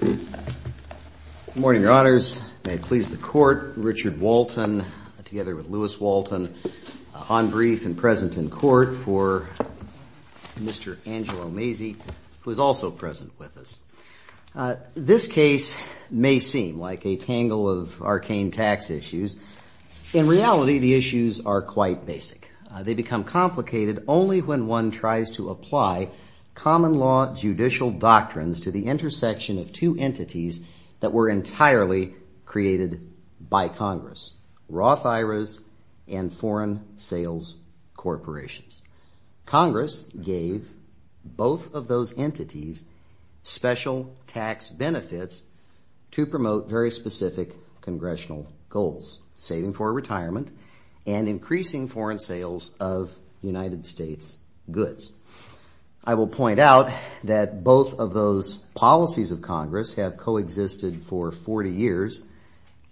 Good morning, your honors. May it please the court, Richard Walton, together with Louis Walton on brief and present in court for Mr. Angelo Mazzei, who is also present with us. This case may seem like a tangle of arcane tax issues. In reality, the issues are quite basic. They become complicated only when one tries to apply common law judicial doctrines to the intersection of two entities that were entirely created by Congress, Roth IRAs and foreign sales corporations. Congress gave both of those entities special tax benefits to promote very specific congressional goals, saving for retirement and increasing foreign sales of United States goods. I will point out that both of those policies of Congress have coexisted for 40 years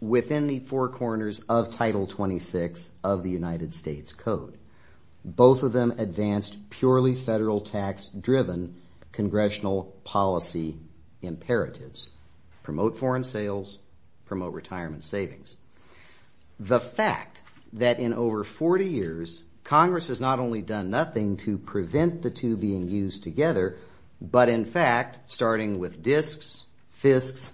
within the four corners of Title 26 of the United States Code. Both of them advanced purely federal tax-driven congressional policy imperatives. Promote foreign sales, promote retirement savings. The fact that in over 40 years, Congress has not only done nothing to prevent the two being used together, but in fact, starting with disks, FISCs,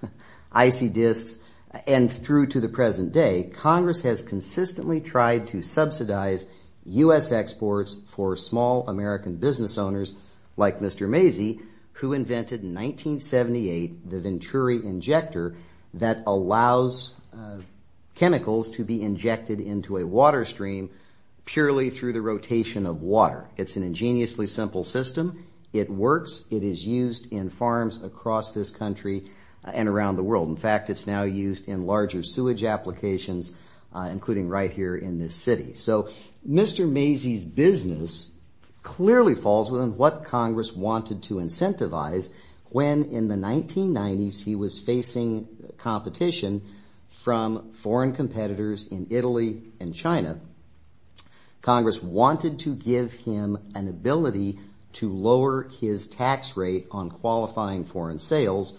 IC disks, and through to the present day, Congress has consistently tried to subsidize U.S. exports for small American business owners like Mr. Macy, who invented in 1978 the Venturi injector that allows chemicals to be injected into a water stream purely through the rotation of water. It's an ingeniously simple system. It works. It is used in farms across this country and around the world. In fact, it's now used in larger sewage applications, including right here in this city. So Mr. Macy's business clearly falls within what Congress wanted to incentivize when in the 1990s, he was facing competition from foreign competitors in Italy and China. Congress wanted to give him an ability to lower his tax rate on qualifying foreign sales.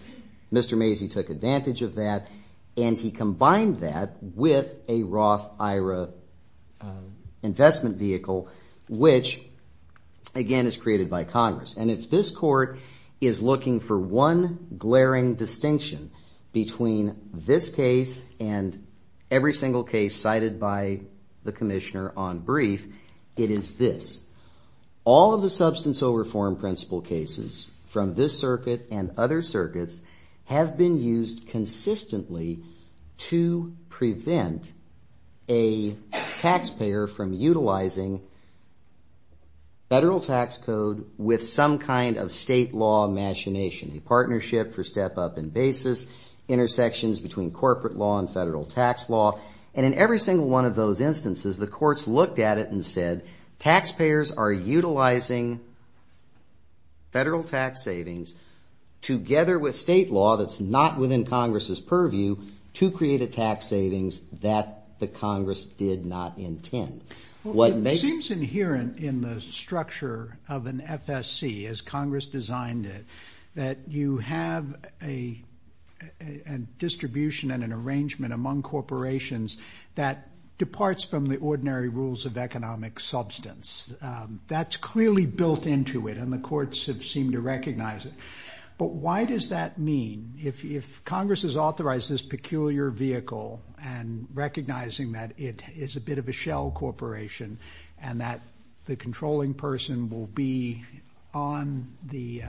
Mr. Macy took advantage of that and he combined that with a Roth IRA investment vehicle, which again is created by Congress. And if this court is looking for one glaring distinction between this case and every single case cited by the commissioner on brief, it is this. All of the substantial reform principle cases from this circuit and other circuits have been used consistently to prevent a taxpayer from utilizing federal tax code with some kind of state law machination, a partnership for step up in basis, intersections between corporate law and federal tax law. And in every single one of those instances, the courts looked at it and said, taxpayers are utilizing federal tax savings together with state law that's not within Congress's purview to create a tax savings that the Congress did not intend. It seems inherent in the structure of an FSC as Congress designed it, that you have a distribution and an arrangement among corporations that departs from the ordinary rules of economic substance. That's clearly built into it and the courts have seemed to recognize it. But why does that mean? If Congress has authorized this peculiar vehicle and recognizing that it is a bit of a shell corporation and that the controlling person will be on the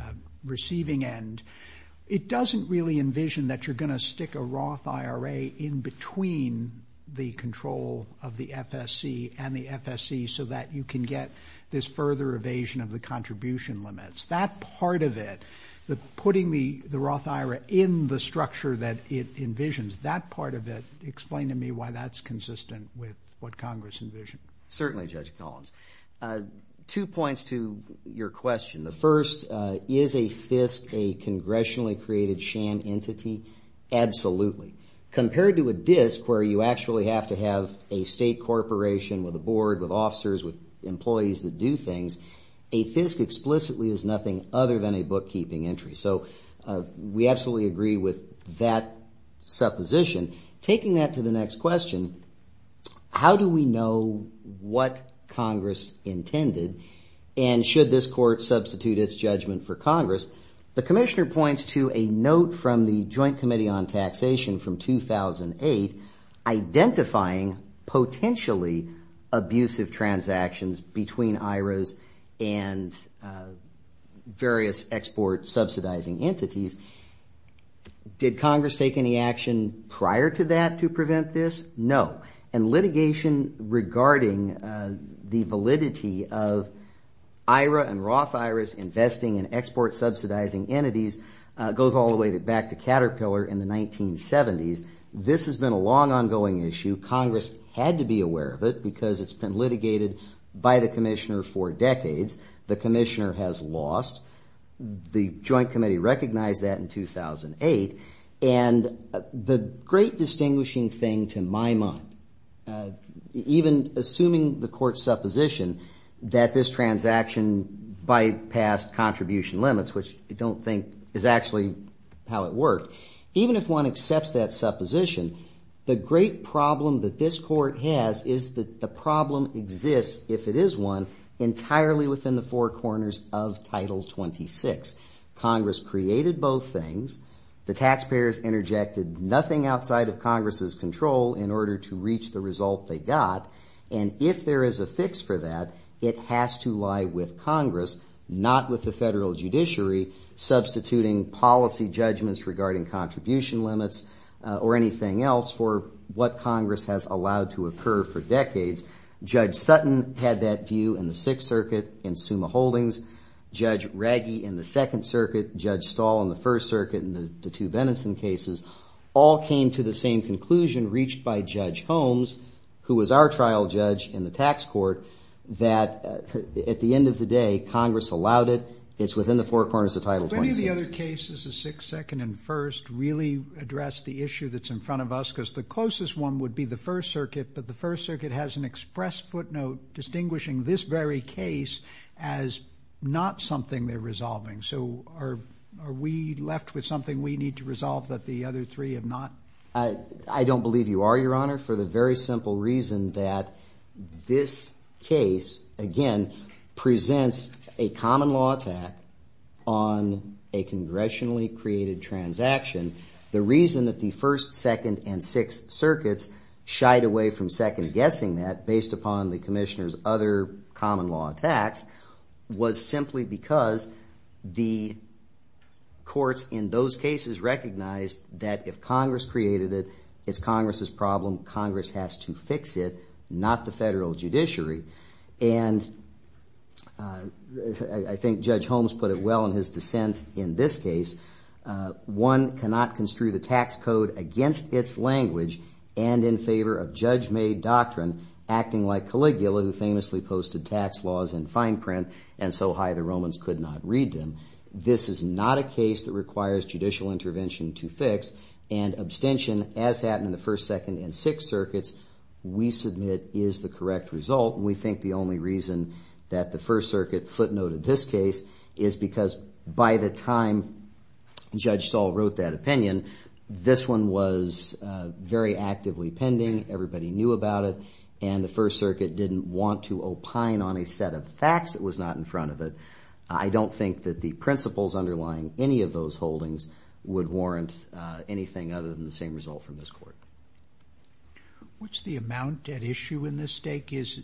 receiving end, it doesn't really envision that you're going to stick a Roth IRA in between the control of the FSC and the FSC so that you can get this further evasion of the contribution limits. That part of it, the putting the Roth IRA in the structure that it envisions, that part of it, explain to me why that's consistent with what Congress envisioned. Certainly, Judge Collins. Two points to your question. The first, is a FSC a congressionally created sham entity? Absolutely. Compared to a DISC where you actually have to have a state corporation with a board, with officers, with employees that do things, a FSC explicitly is nothing other than a bookkeeping entry. We absolutely agree with that supposition. Taking that to the next question, how do we know what Congress intended and should this court substitute its judgment for Congress? The Commissioner points to a note from the Joint Committee on Taxation from 2008 identifying potentially abusive transactions between IRAs and various export subsidizing entities. Did Congress take any action prior to that? No. Litigation regarding the validity of IRA and Roth IRAs investing in export subsidizing entities goes all the way back to Caterpillar in the 1970s. This has been a long ongoing issue. Congress had to be aware of it because it's been litigated by the Commissioner for decades. The Commissioner has lost. The Joint Committee recognized that in 2008. The great distinguishing thing to my mind, even assuming the court's supposition that this transaction bypassed contribution limits, which I don't think is actually how it worked, even if one accepts that supposition, the great problem that this court has is that the problem exists, if it is one, entirely within the four corners of Title 26. Congress created both things. The taxpayers interjected nothing outside of Congress's control in order to reach the result they got. And if there is a fix for that, it has to lie with Congress, not with the federal judiciary, substituting policy judgments regarding contribution limits or anything else for what Congress has allowed to occur for decades. Judge Sutton had that view in the Sixth Circuit in Summa Holdings. Judge Reggie in the Second Circuit. Judge Stahl in the First Circuit in the two Benenson cases all came to the same conclusion reached by Judge Holmes, who was our trial judge in the tax court, that at the end of the day Congress allowed it. It's within the four corners of Title 26. Do any of the other cases, the Sixth, Second, and First, really address the issue that's in front of us? Because the closest one would be the First Circuit, but the First Circuit has an express footnote distinguishing this very case as not something they're resolving. So are we left with something we need to resolve that the other three have not? I don't believe you are, Your Honor, for the very simple reason that this case, again, presents a common law attack on a congressionally created transaction. The reason that the First, Second, and Sixth Circuits shied away from second-guessing that based upon the Commissioner's other common law attacks was simply because the courts in those cases recognized that if Congress created it, it's Congress's problem. Congress has to fix it, not the federal judiciary. I think Judge Holmes put it well in his dissent in this case. One cannot construe the tax code against its language and in favor of judge-made doctrine acting like Caligula, who famously posted tax laws in fine print and so high the Romans could not read them. This is not a case that requires judicial intervention to fix, and abstention, as happened in the First, Second, and Sixth Circuits, we submit is the correct result. We think the only reason that the First Circuit footnoted this case is because by the time Judge Stahl wrote that opinion, this one was very actively pending, everybody knew about it, and the court didn't want to opine on a set of facts that was not in front of it. I don't think that the principles underlying any of those holdings would warrant anything other than the same result from this court. What's the amount at issue in this case?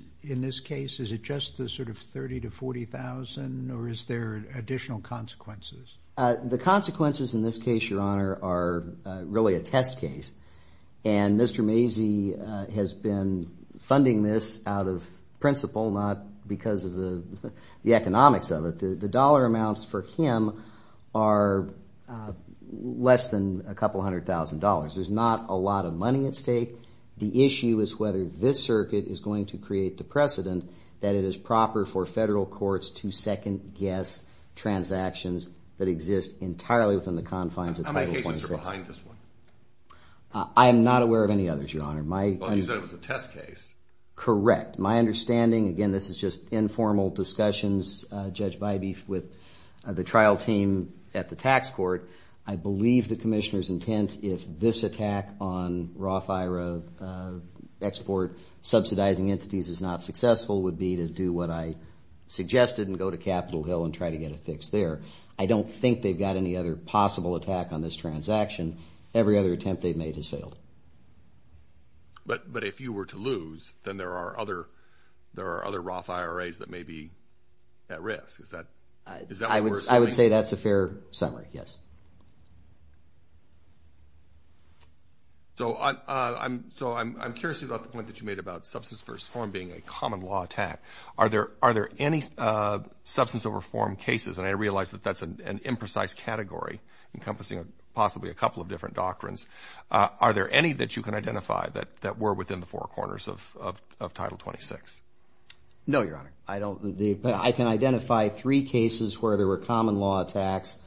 Is it just the sort of $30,000 to $40,000, or is there additional consequences? The consequences in this case, Your Honor, are really a test case, and Mr. Mazie has been funding this out of principle, not because of the economics of it. The dollar amounts for him are less than a couple hundred thousand dollars. There's not a lot of money at stake. The issue is whether this circuit is going to create the precedent that it is proper for federal courts to second-guess transactions that exist entirely within the confines of Title 26. How many cases are behind this one? I am not aware of any others, Your Honor. You said it was a test case. Correct. My understanding, again, this is just informal discussions, Judge Bybee, with the trial team at the tax court. I believe the Commissioner's intent, if this attack on Roth IRA export subsidizing entities is not successful, would be to do what I suggested and go to Capitol Hill and try to get a fix there. I don't think they've got any other possible attack on this transaction. Every other attempt they've made has failed. But if you were to lose, then there are other Roth IRAs that may be at risk. Is that what we're assuming? I would say that's a fair summary, yes. So I'm curious about the point that you made about substance-first reform cases. And I realize that that's an imprecise category, encompassing possibly a couple of different doctrines. Are there any that you can identify that were within the four corners of Title 26? No, Your Honor. I can identify three cases where there were common law attacks,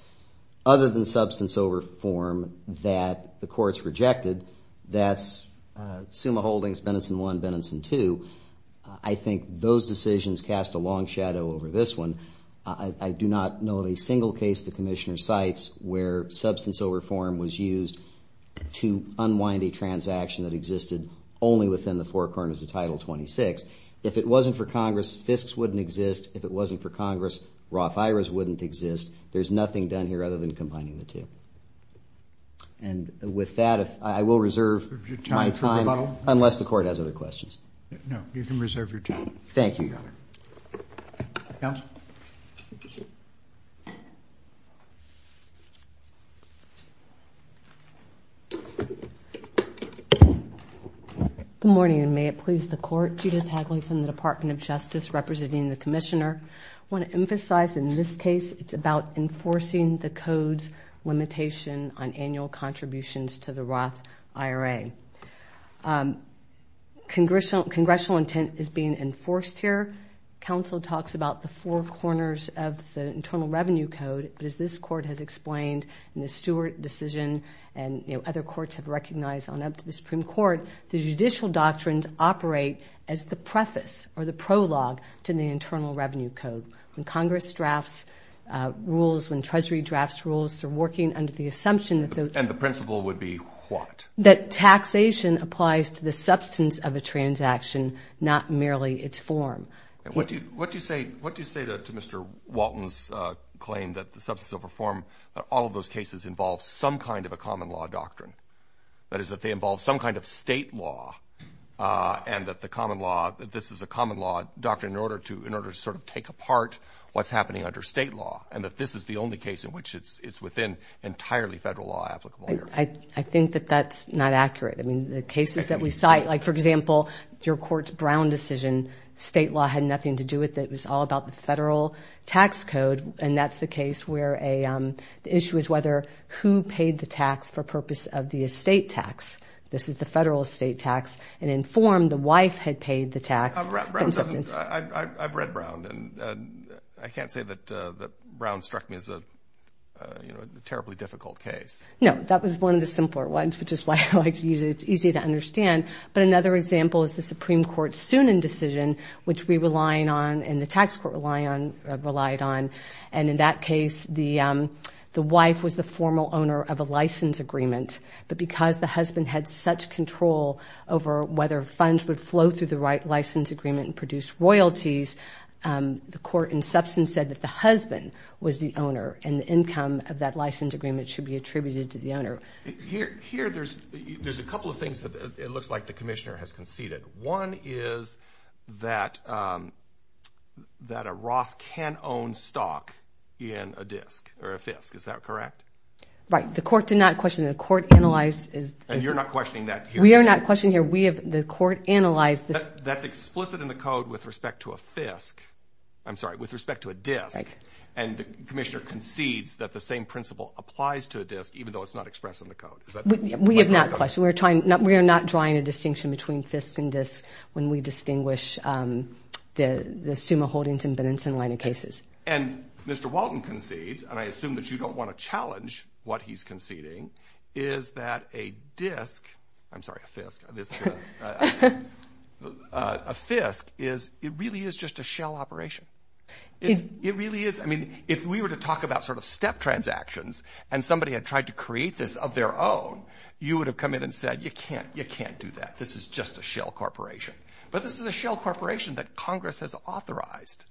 other than substance over form, that the courts rejected. That's Summa Holdings, Benenson 1, Benenson 2. I think those decisions cast a long shadow over this one. I do not know of a single case the Commissioner cites where substance over form was used to unwind a transaction that existed only within the four corners of Title 26. If it wasn't for Congress, FISCs wouldn't exist. If it wasn't for Congress, Roth IRAs wouldn't exist. There's nothing done here other than combining the two. And with that, I will reserve my time, unless the court has other questions. No, you can reserve your time. Thank you, Your Honor. Good morning, and may it please the Court. Judith Hagley from the Department of Justice, representing the Commissioner. I want to emphasize in this case, it's about enforcing the Code's limitation on annual contributions to the Roth IRA. Congressional intent is being enforced here. Counsel talks about the four corners of the Internal Revenue Code, but as this Court has explained in the Stewart decision, and other courts have recognized on up to the Supreme Court, the judicial doctrines operate as the preface, or the prologue, to the Internal Revenue Code. When Congress drafts rules, when Treasury drafts rules, they're working under the assumption that... And the principle would be what? That taxation applies to the substance of a transaction, not merely its form. What do you say to Mr. Walton's claim that the substance of a form, that all of those cases involve some kind of a common law doctrine? That is, that they involve some kind of state law, and that the common law, this is a common law doctrine in order to sort of take apart what's happening under state law, and that this is the only case in which it's within entirely federal law that's applicable here. I think that that's not accurate. I mean, the cases that we cite, like for example, your Court's Brown decision, state law had nothing to do with it. It was all about the federal tax code, and that's the case where the issue is whether who paid the tax for purpose of the estate tax. This is the federal estate tax, and informed the wife had paid the tax. I've read Brown, and I can't say that Brown struck me as a terribly difficult case. No, that was one of the simpler ones, which is why I like to use it. It's easy to understand, but another example is the Supreme Court's Soonan decision, which we rely on, and the tax court relied on, and in that case, the wife was the formal owner of a license agreement, but because the husband had such control over whether funds would flow through the right license agreement and produce royalties, the court in substance said that the husband was the owner, and the income of that license agreement should be attributed to the owner. Here, there's a couple of things that it looks like the commissioner has conceded. One is that a Roth can own stock in a FISC, is that correct? Right. The court did not question. The court analyzed. And you're not questioning that here. We are not questioning here. The court analyzed. That's explicit in the code with respect to a FISC. I'm sorry, with respect to a DISC, and the commissioner concedes that the same principle applies to a DISC, even though it's not expressed in the code. Is that correct? We have not questioned. We are not drawing a distinction between FISC and DISC when we distinguish the Suma Holdings and Benenson line of cases. And Mr. Walton concedes, and I assume that you don't want to challenge what he's conceding, is that a DISC, I'm sorry, a FISC, a FISC is, it really is just a shell operation. It really is. I mean, if we were to talk about sort of step transactions, and somebody had tried to create this of their own, you would have come in and said, you can't, you can't do that. This is just a shell corporation. But this is a shell corporation that Congress has authorized.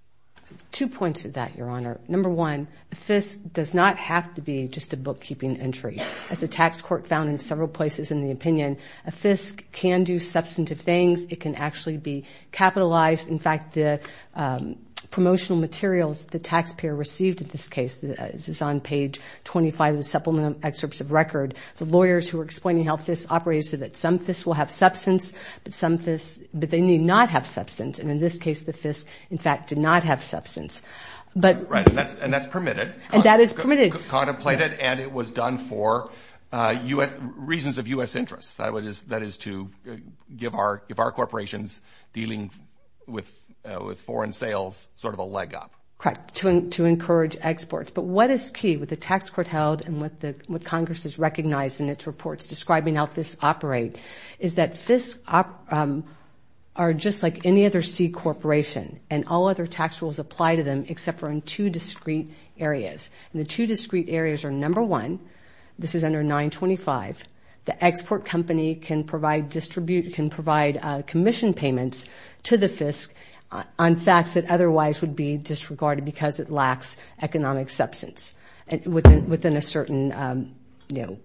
Two points to that, Your Honor. Number one, FISC does not have to be just a bookkeeping entry. As the tax court found in several places in the opinion, a FISC can do substantive things. It can actually be capitalized. In fact, the promotional materials the taxpayer received in this case, this is on page 25 of the Supplemental Excerpts of Record, the lawyers who were explaining how FISC operates said that some FISC will have substance, but some FISC, but they need not have substance. And in this case, the FISC, in fact, did not have substance. But. Right, and that's permitted. And that is permitted. Contemplated, and it was done for U.S. reasons of U.S. interests. That is to give our corporations dealing with foreign sales sort of a leg up. Correct. To encourage exports. But what is key with the tax court held and what Congress has recognized in its reports describing how FISC operate is that FISC are just like any other C corporation, and all other tax rules apply to them except for in two discrete areas. And the two discrete areas are number one, this is under 925, the export company can provide commission payments to the FISC on facts that otherwise would be disregarded because it lacks economic substance within a certain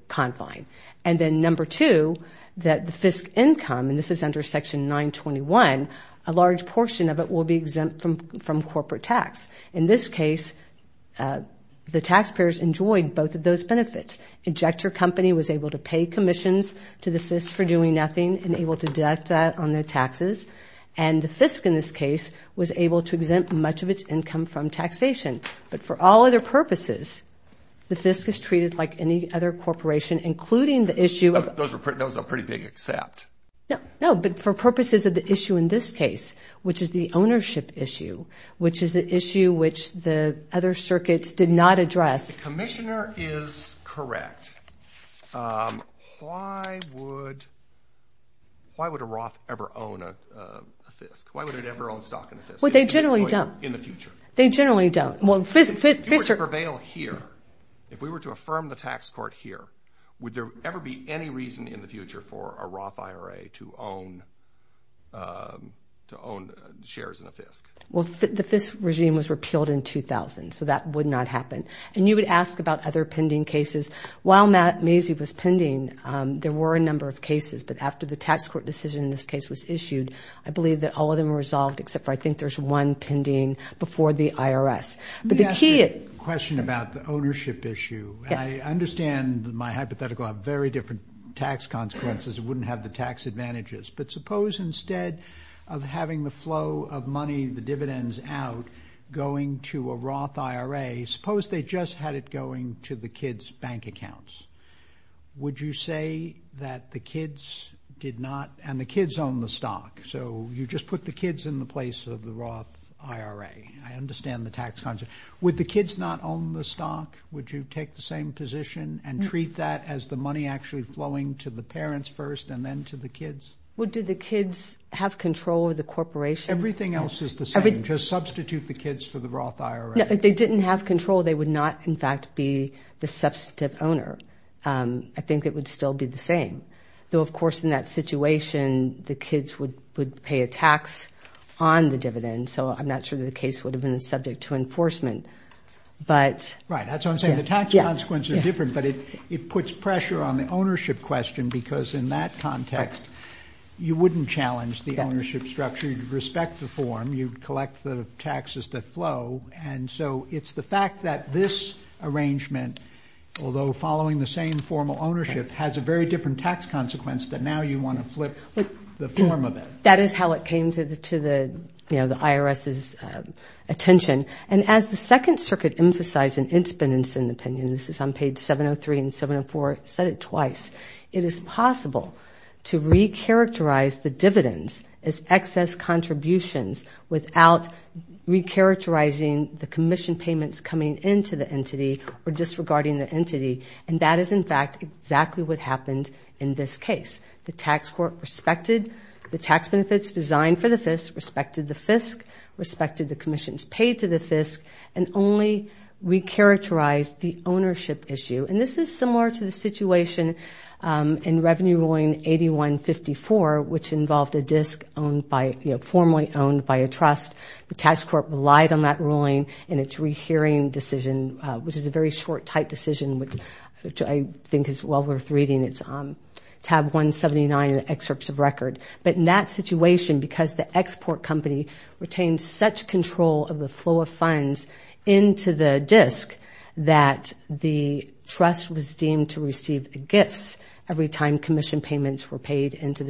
confine. And then number two, that the FISC income, and this is under section 921, a large portion of it will be exempt from corporate tax. In this case, the taxpayers enjoyed both of those benefits. Injector company was able to pay commissions to the FISC for doing nothing and able to deduct that on their taxes. And the FISC, in this case, was able to exempt much of its income from taxation. But for all other purposes, the FISC is treated like any other corporation, including the issue of. Those are pretty big except. No, but for purposes of the issue in this case, which is the ownership issue, which is the issue which the other circuits did not address. If the commissioner is correct, why would a Roth ever own a FISC? Why would it ever own stock in a FISC? Well, they generally don't. In the future. They generally don't. If we were to prevail here, if we were to affirm the tax court here, would there ever be any reason in the future for a Roth IRA to own shares in a FISC? Well, the FISC regime was repealed in 2000, so that would not happen. And you would ask about other pending cases. While Macy was pending, there were a number of cases. But after the tax court decision in this case was issued, I believe that all of them were resolved, except for I think there's one pending before the IRS. Let me ask you a question about the ownership issue. Yes. I understand that my hypothetical had very different tax consequences. It wouldn't have the tax advantages. But suppose instead of having the flow of money, the dividends out, going to a Roth IRA, suppose they just had it going to the kids' bank accounts. Would you say that the kids did not, and the kids own the stock, so you just put the kids in the place of the Roth IRA? I understand the tax concept. Would the kids not own the stock? Would you take the same position and treat that as the money actually flowing to the parents first and then to the kids? Well, do the kids have control of the corporation? Everything else is the same. Just substitute the kids for the Roth IRA. No, if they didn't have control, they would not, in fact, be the substantive owner. I think it would still be the same. Though, of course, in that situation, the kids would pay a tax on the dividends. So I'm not sure that the case would have been subject to enforcement. Right. That's what I'm saying. The tax consequences are different, but it puts pressure on the ownership question because in that context, you wouldn't challenge the ownership structure. You'd respect the form. You'd collect the taxes that flow. And so it's the fact that this arrangement, although following the same formal ownership, has a very different tax consequence that now you want to flip the form of it. That is how it came to the IRS's attention. And as the Second Circuit emphasized in its penance and opinion, this is on page 703 and 704, it said it twice, it is possible to recharacterize the dividends as excess contributions without recharacterizing the commission payments coming into the entity or disregarding the entity. And that is, in fact, exactly what happened in this case. The tax court respected the tax benefits designed for the FISC, respected the FISC, respected the commissions paid to the FISC, and only recharacterized the ownership issue. And this is similar to the situation in Revenue Ruling 8154, which involved a disk owned by, you know, formally owned by a trust. The tax court relied on that ruling in its rehearing decision, which is a very short, tight decision, which I think is well worth reading. It is on tab 179 in the excerpts of record. But in that situation, because the export company retained such control of the flow of funds into the disk that the trust was deemed to receive gifts every time commission payments were paid into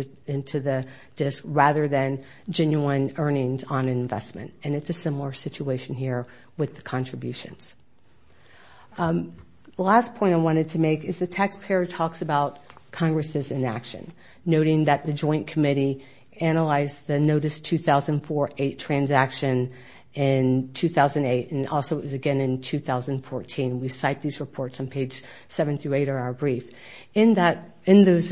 the disk rather than genuine earnings on an investment. And it is a similar situation here with the contributions. The last point I wanted to make is the taxpayer talks about Congress's inaction, noting that the Joint Committee analyzed the Notice 2004-8 transaction in 2008, and also it was again in 2014. We cite these reports on page 7 through 8 of our brief. In that, in those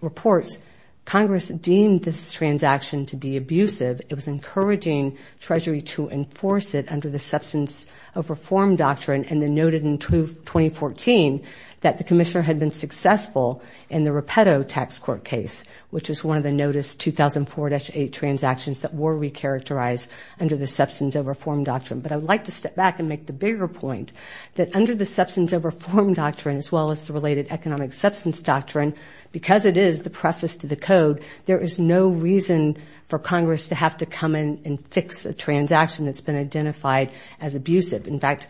reports, Congress deemed this transaction to be abusive. It was encouraging Treasury to enforce it under the Substance of Reform Doctrine, and then noted in 2014 that the commissioner had been successful in the Rapeto tax court case, which is one of the Notice 2004-8 transactions that were recharacterized under the Substance of Reform Doctrine. But I would like to step back and make the bigger point that under the Substance of Reform Doctrine, as well as the related Economic Substance Doctrine, because it is the preface to the Code, there is no reason for Congress to have to come in and fix a transaction that's been identified as abusive. In fact,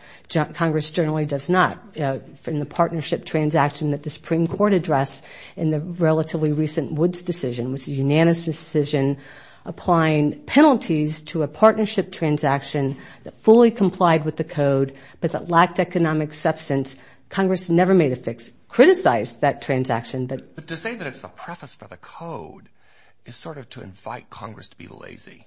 Congress generally does not. In the partnership transaction that the Supreme Court addressed in the relatively recent Woods decision, which is a unanimous decision applying penalties to a partnership transaction that fully complied with the Code, but that lacked economic substance, Congress never made a fix. Criticized that transaction, but... But to say that it's the preface for the Code is sort of to invite Congress to be lazy.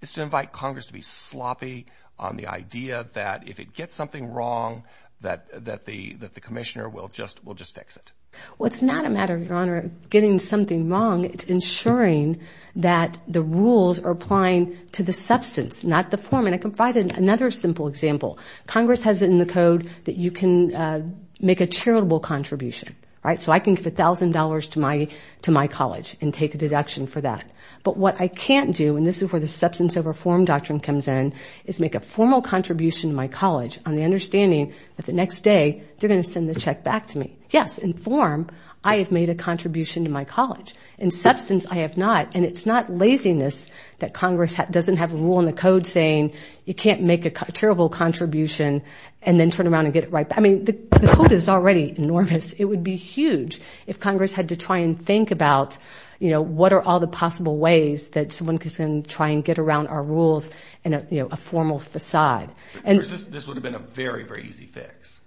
It's to invite Congress to be sloppy on the idea that if it gets something wrong, that the commissioner will just fix it. Well, it's not a matter, Your Honor, of getting something wrong. It's ensuring that the rules are applying to the substance, not the form. And I can provide another simple example. Congress has it in the Code that you can make a charitable contribution, right? So I can give $1,000 to my college and take a deduction for that. But what I can't do, and this is where the substance over form doctrine comes in, is make a formal contribution to my college on the understanding that the next day, they're going to send the check back to me. Yes, in form, I have made a contribution to my college. In substance, I have not. And it's not laziness that Congress doesn't have a rule in the Code saying you can't make a charitable contribution and then turn around and get it right. I mean, the Code is already enormous. It would be huge if Congress had to try and think about what are all the possible ways that someone is going to try and get around our rules in a formal facade. This would have been a very, very easy fix.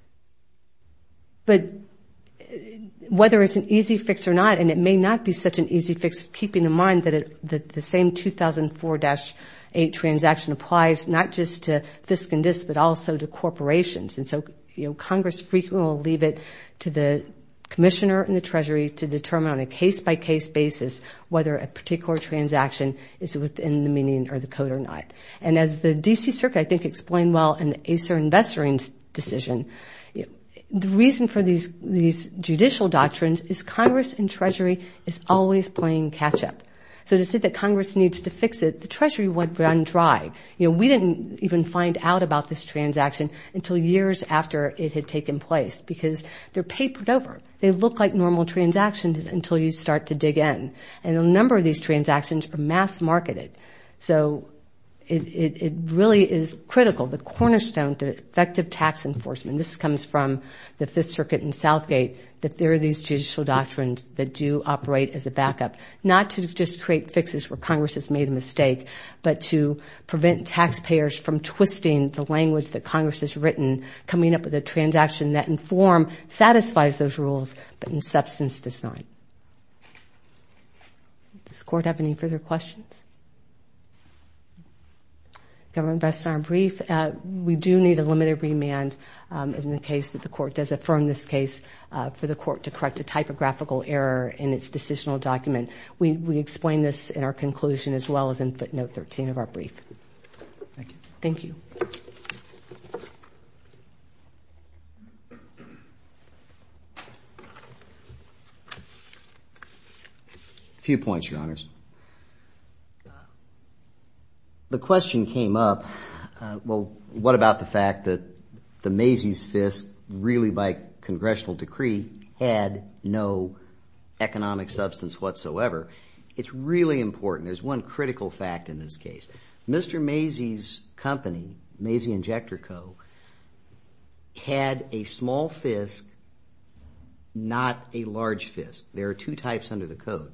But whether it's an easy fix or not, and it may not be such an easy fix, keeping in mind that the same 2004-8 transaction applies not just to FISC and DISC, but also to corporations. And so Congress frequently will leave it to the Commissioner and the Treasury to determine on a case-by-case basis whether a particular transaction is within the meaning or the Code or not. And as the D.C. Circuit, I think, explained well in the Acer Investor Inc. decision, the reason for these judicial doctrines is Congress and Treasury is always playing catch-up. So to say that Congress needs to fix it, the Treasury would run dry. You know, we didn't even find out about this transaction until years after it had taken place because they're quite normal transactions until you start to dig in. And a number of these transactions are mass-marketed. So it really is critical, the cornerstone to effective tax enforcement. This comes from the Fifth Circuit and Southgate, that there are these judicial doctrines that do operate as a backup, not to just create fixes where Congress has made a mistake, but to prevent taxpayers from twisting the language that Congress has written, coming up with a transaction that, in form, satisfies those rules, but in substance, does not. Does the Court have any further questions? Governor Best, in our brief, we do need a limited remand in the case that the Court does affirm this case for the Court to correct a typographical error in its decisional document. We explain this in our conclusion as well as in footnote 13 of our brief. Thank you. A few points, Your Honors. The question came up, well, what about the fact that the Macy's Fisk, really by Congressional decree, had no economic substance whatsoever. It's really had a small Fisk, not a large Fisk. There are two types under the Code.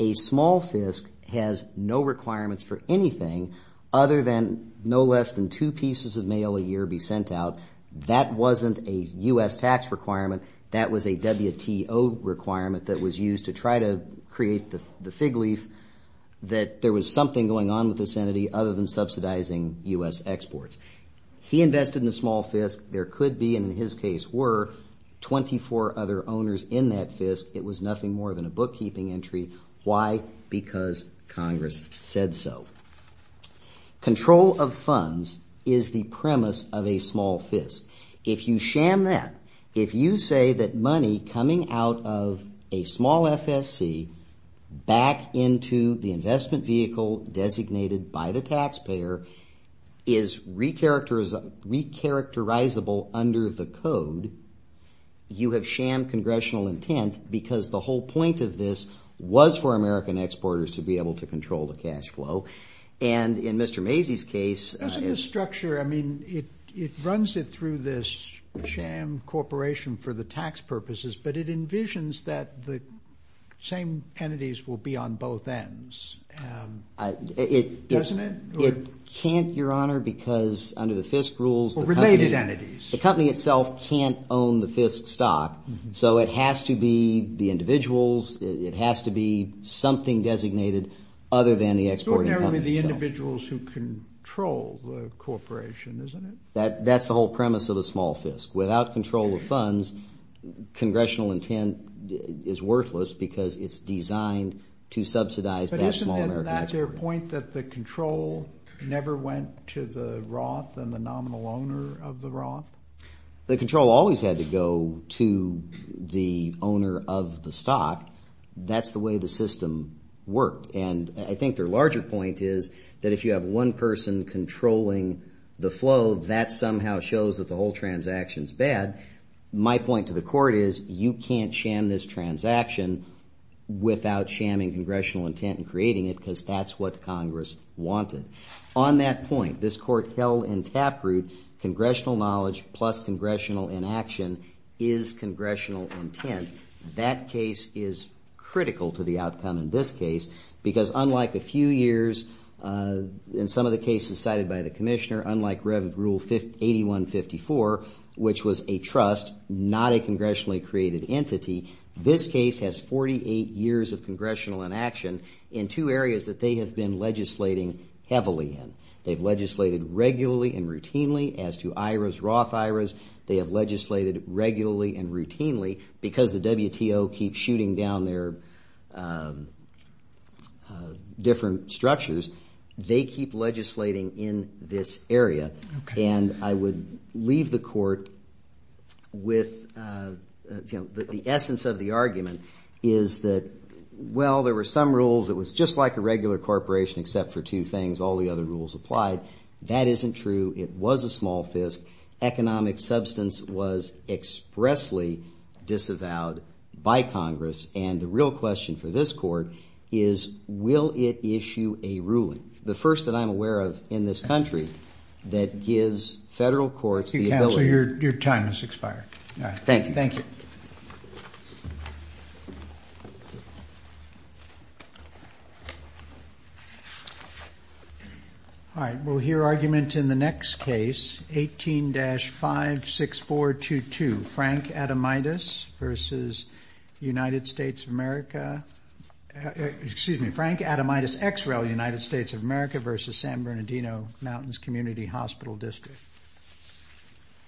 A small Fisk has no requirements for anything other than no less than two pieces of mail a year be sent out. That wasn't a U.S. tax requirement. That was a WTO requirement that was used to try to create the fig leaf that there was something going on with this entity other than subsidizing U.S. exports. He invested in a small Fisk. There could be, and in his case were, 24 other owners in that Fisk. It was nothing more than a bookkeeping entry. Why? Because Congress said so. Control of funds is the premise of a small Fisk. If you sham that, if you say that money coming out of a small FSC back into the investment vehicle designated by the taxpayer is recharacterizable under the Code, you have sham Congressional intent because the whole point of this was for American exporters to be able to control the cash flow. And in Mr. Macy's case... Because of the structure, I mean, it runs it through this sham corporation for the tax purposes, but it envisions that the same entities will be on both ends. Doesn't it? It can't, Your Honor, because under the Fisk rules... Related entities. The company itself can't own the Fisk stock, so it has to be the individuals, it has to be something designated other than the exporting company itself. Ordinarily the individuals who control the corporation, isn't it? That's the whole premise of a small Fisk. Without control of funds, Congressional intent is worthless because it's designed to subsidize that small American exporter. But isn't it at that point that the control never went to the Roth and the nominal owner of the Roth? The control always had to go to the owner of the stock. That's the way the system worked. And I think their larger point is that if you have one person controlling the flow, that somehow shows that the whole transaction's bad. My point to the Court is you can't sham this transaction without shamming Congressional intent and creating it because that's what Congress wanted. On that point, this Court held in Taproot, Congressional knowledge plus Congressional inaction is Congressional intent. That case is critical to the outcome in this case because unlike a few years, in some of the cases cited by the Commissioner, unlike Rev. Rule 8154, which was a trust, not a congressionally created entity, this case has 48 years of Congressional inaction in two areas that they have been legislating heavily in. They've legislated regularly and routinely as to IRAs, Roth IRAs. They have legislated regularly and routinely because the WTO keeps shooting down their different structures. They keep legislating in this area. And I would leave the Court with the essence of the argument is that, well, there were some rules. It was just like a regular corporation except for two things. All the other rules applied. That isn't true. It was a small fisk. Economic substance was expressly disavowed by Congress. And the real question for this Court is will it issue a ruling, the first that I'm aware of in this country, that gives federal courts the ability... Thank you, Counselor. Your time has expired. Thank you. Thank you. All right. We'll hear argument in the next case, 18-56422, Frank Adamidas versus United States of America... Excuse me, Frank Adamidas-Exrell, United States of America versus San Bernardino Mountains Community Hospital District.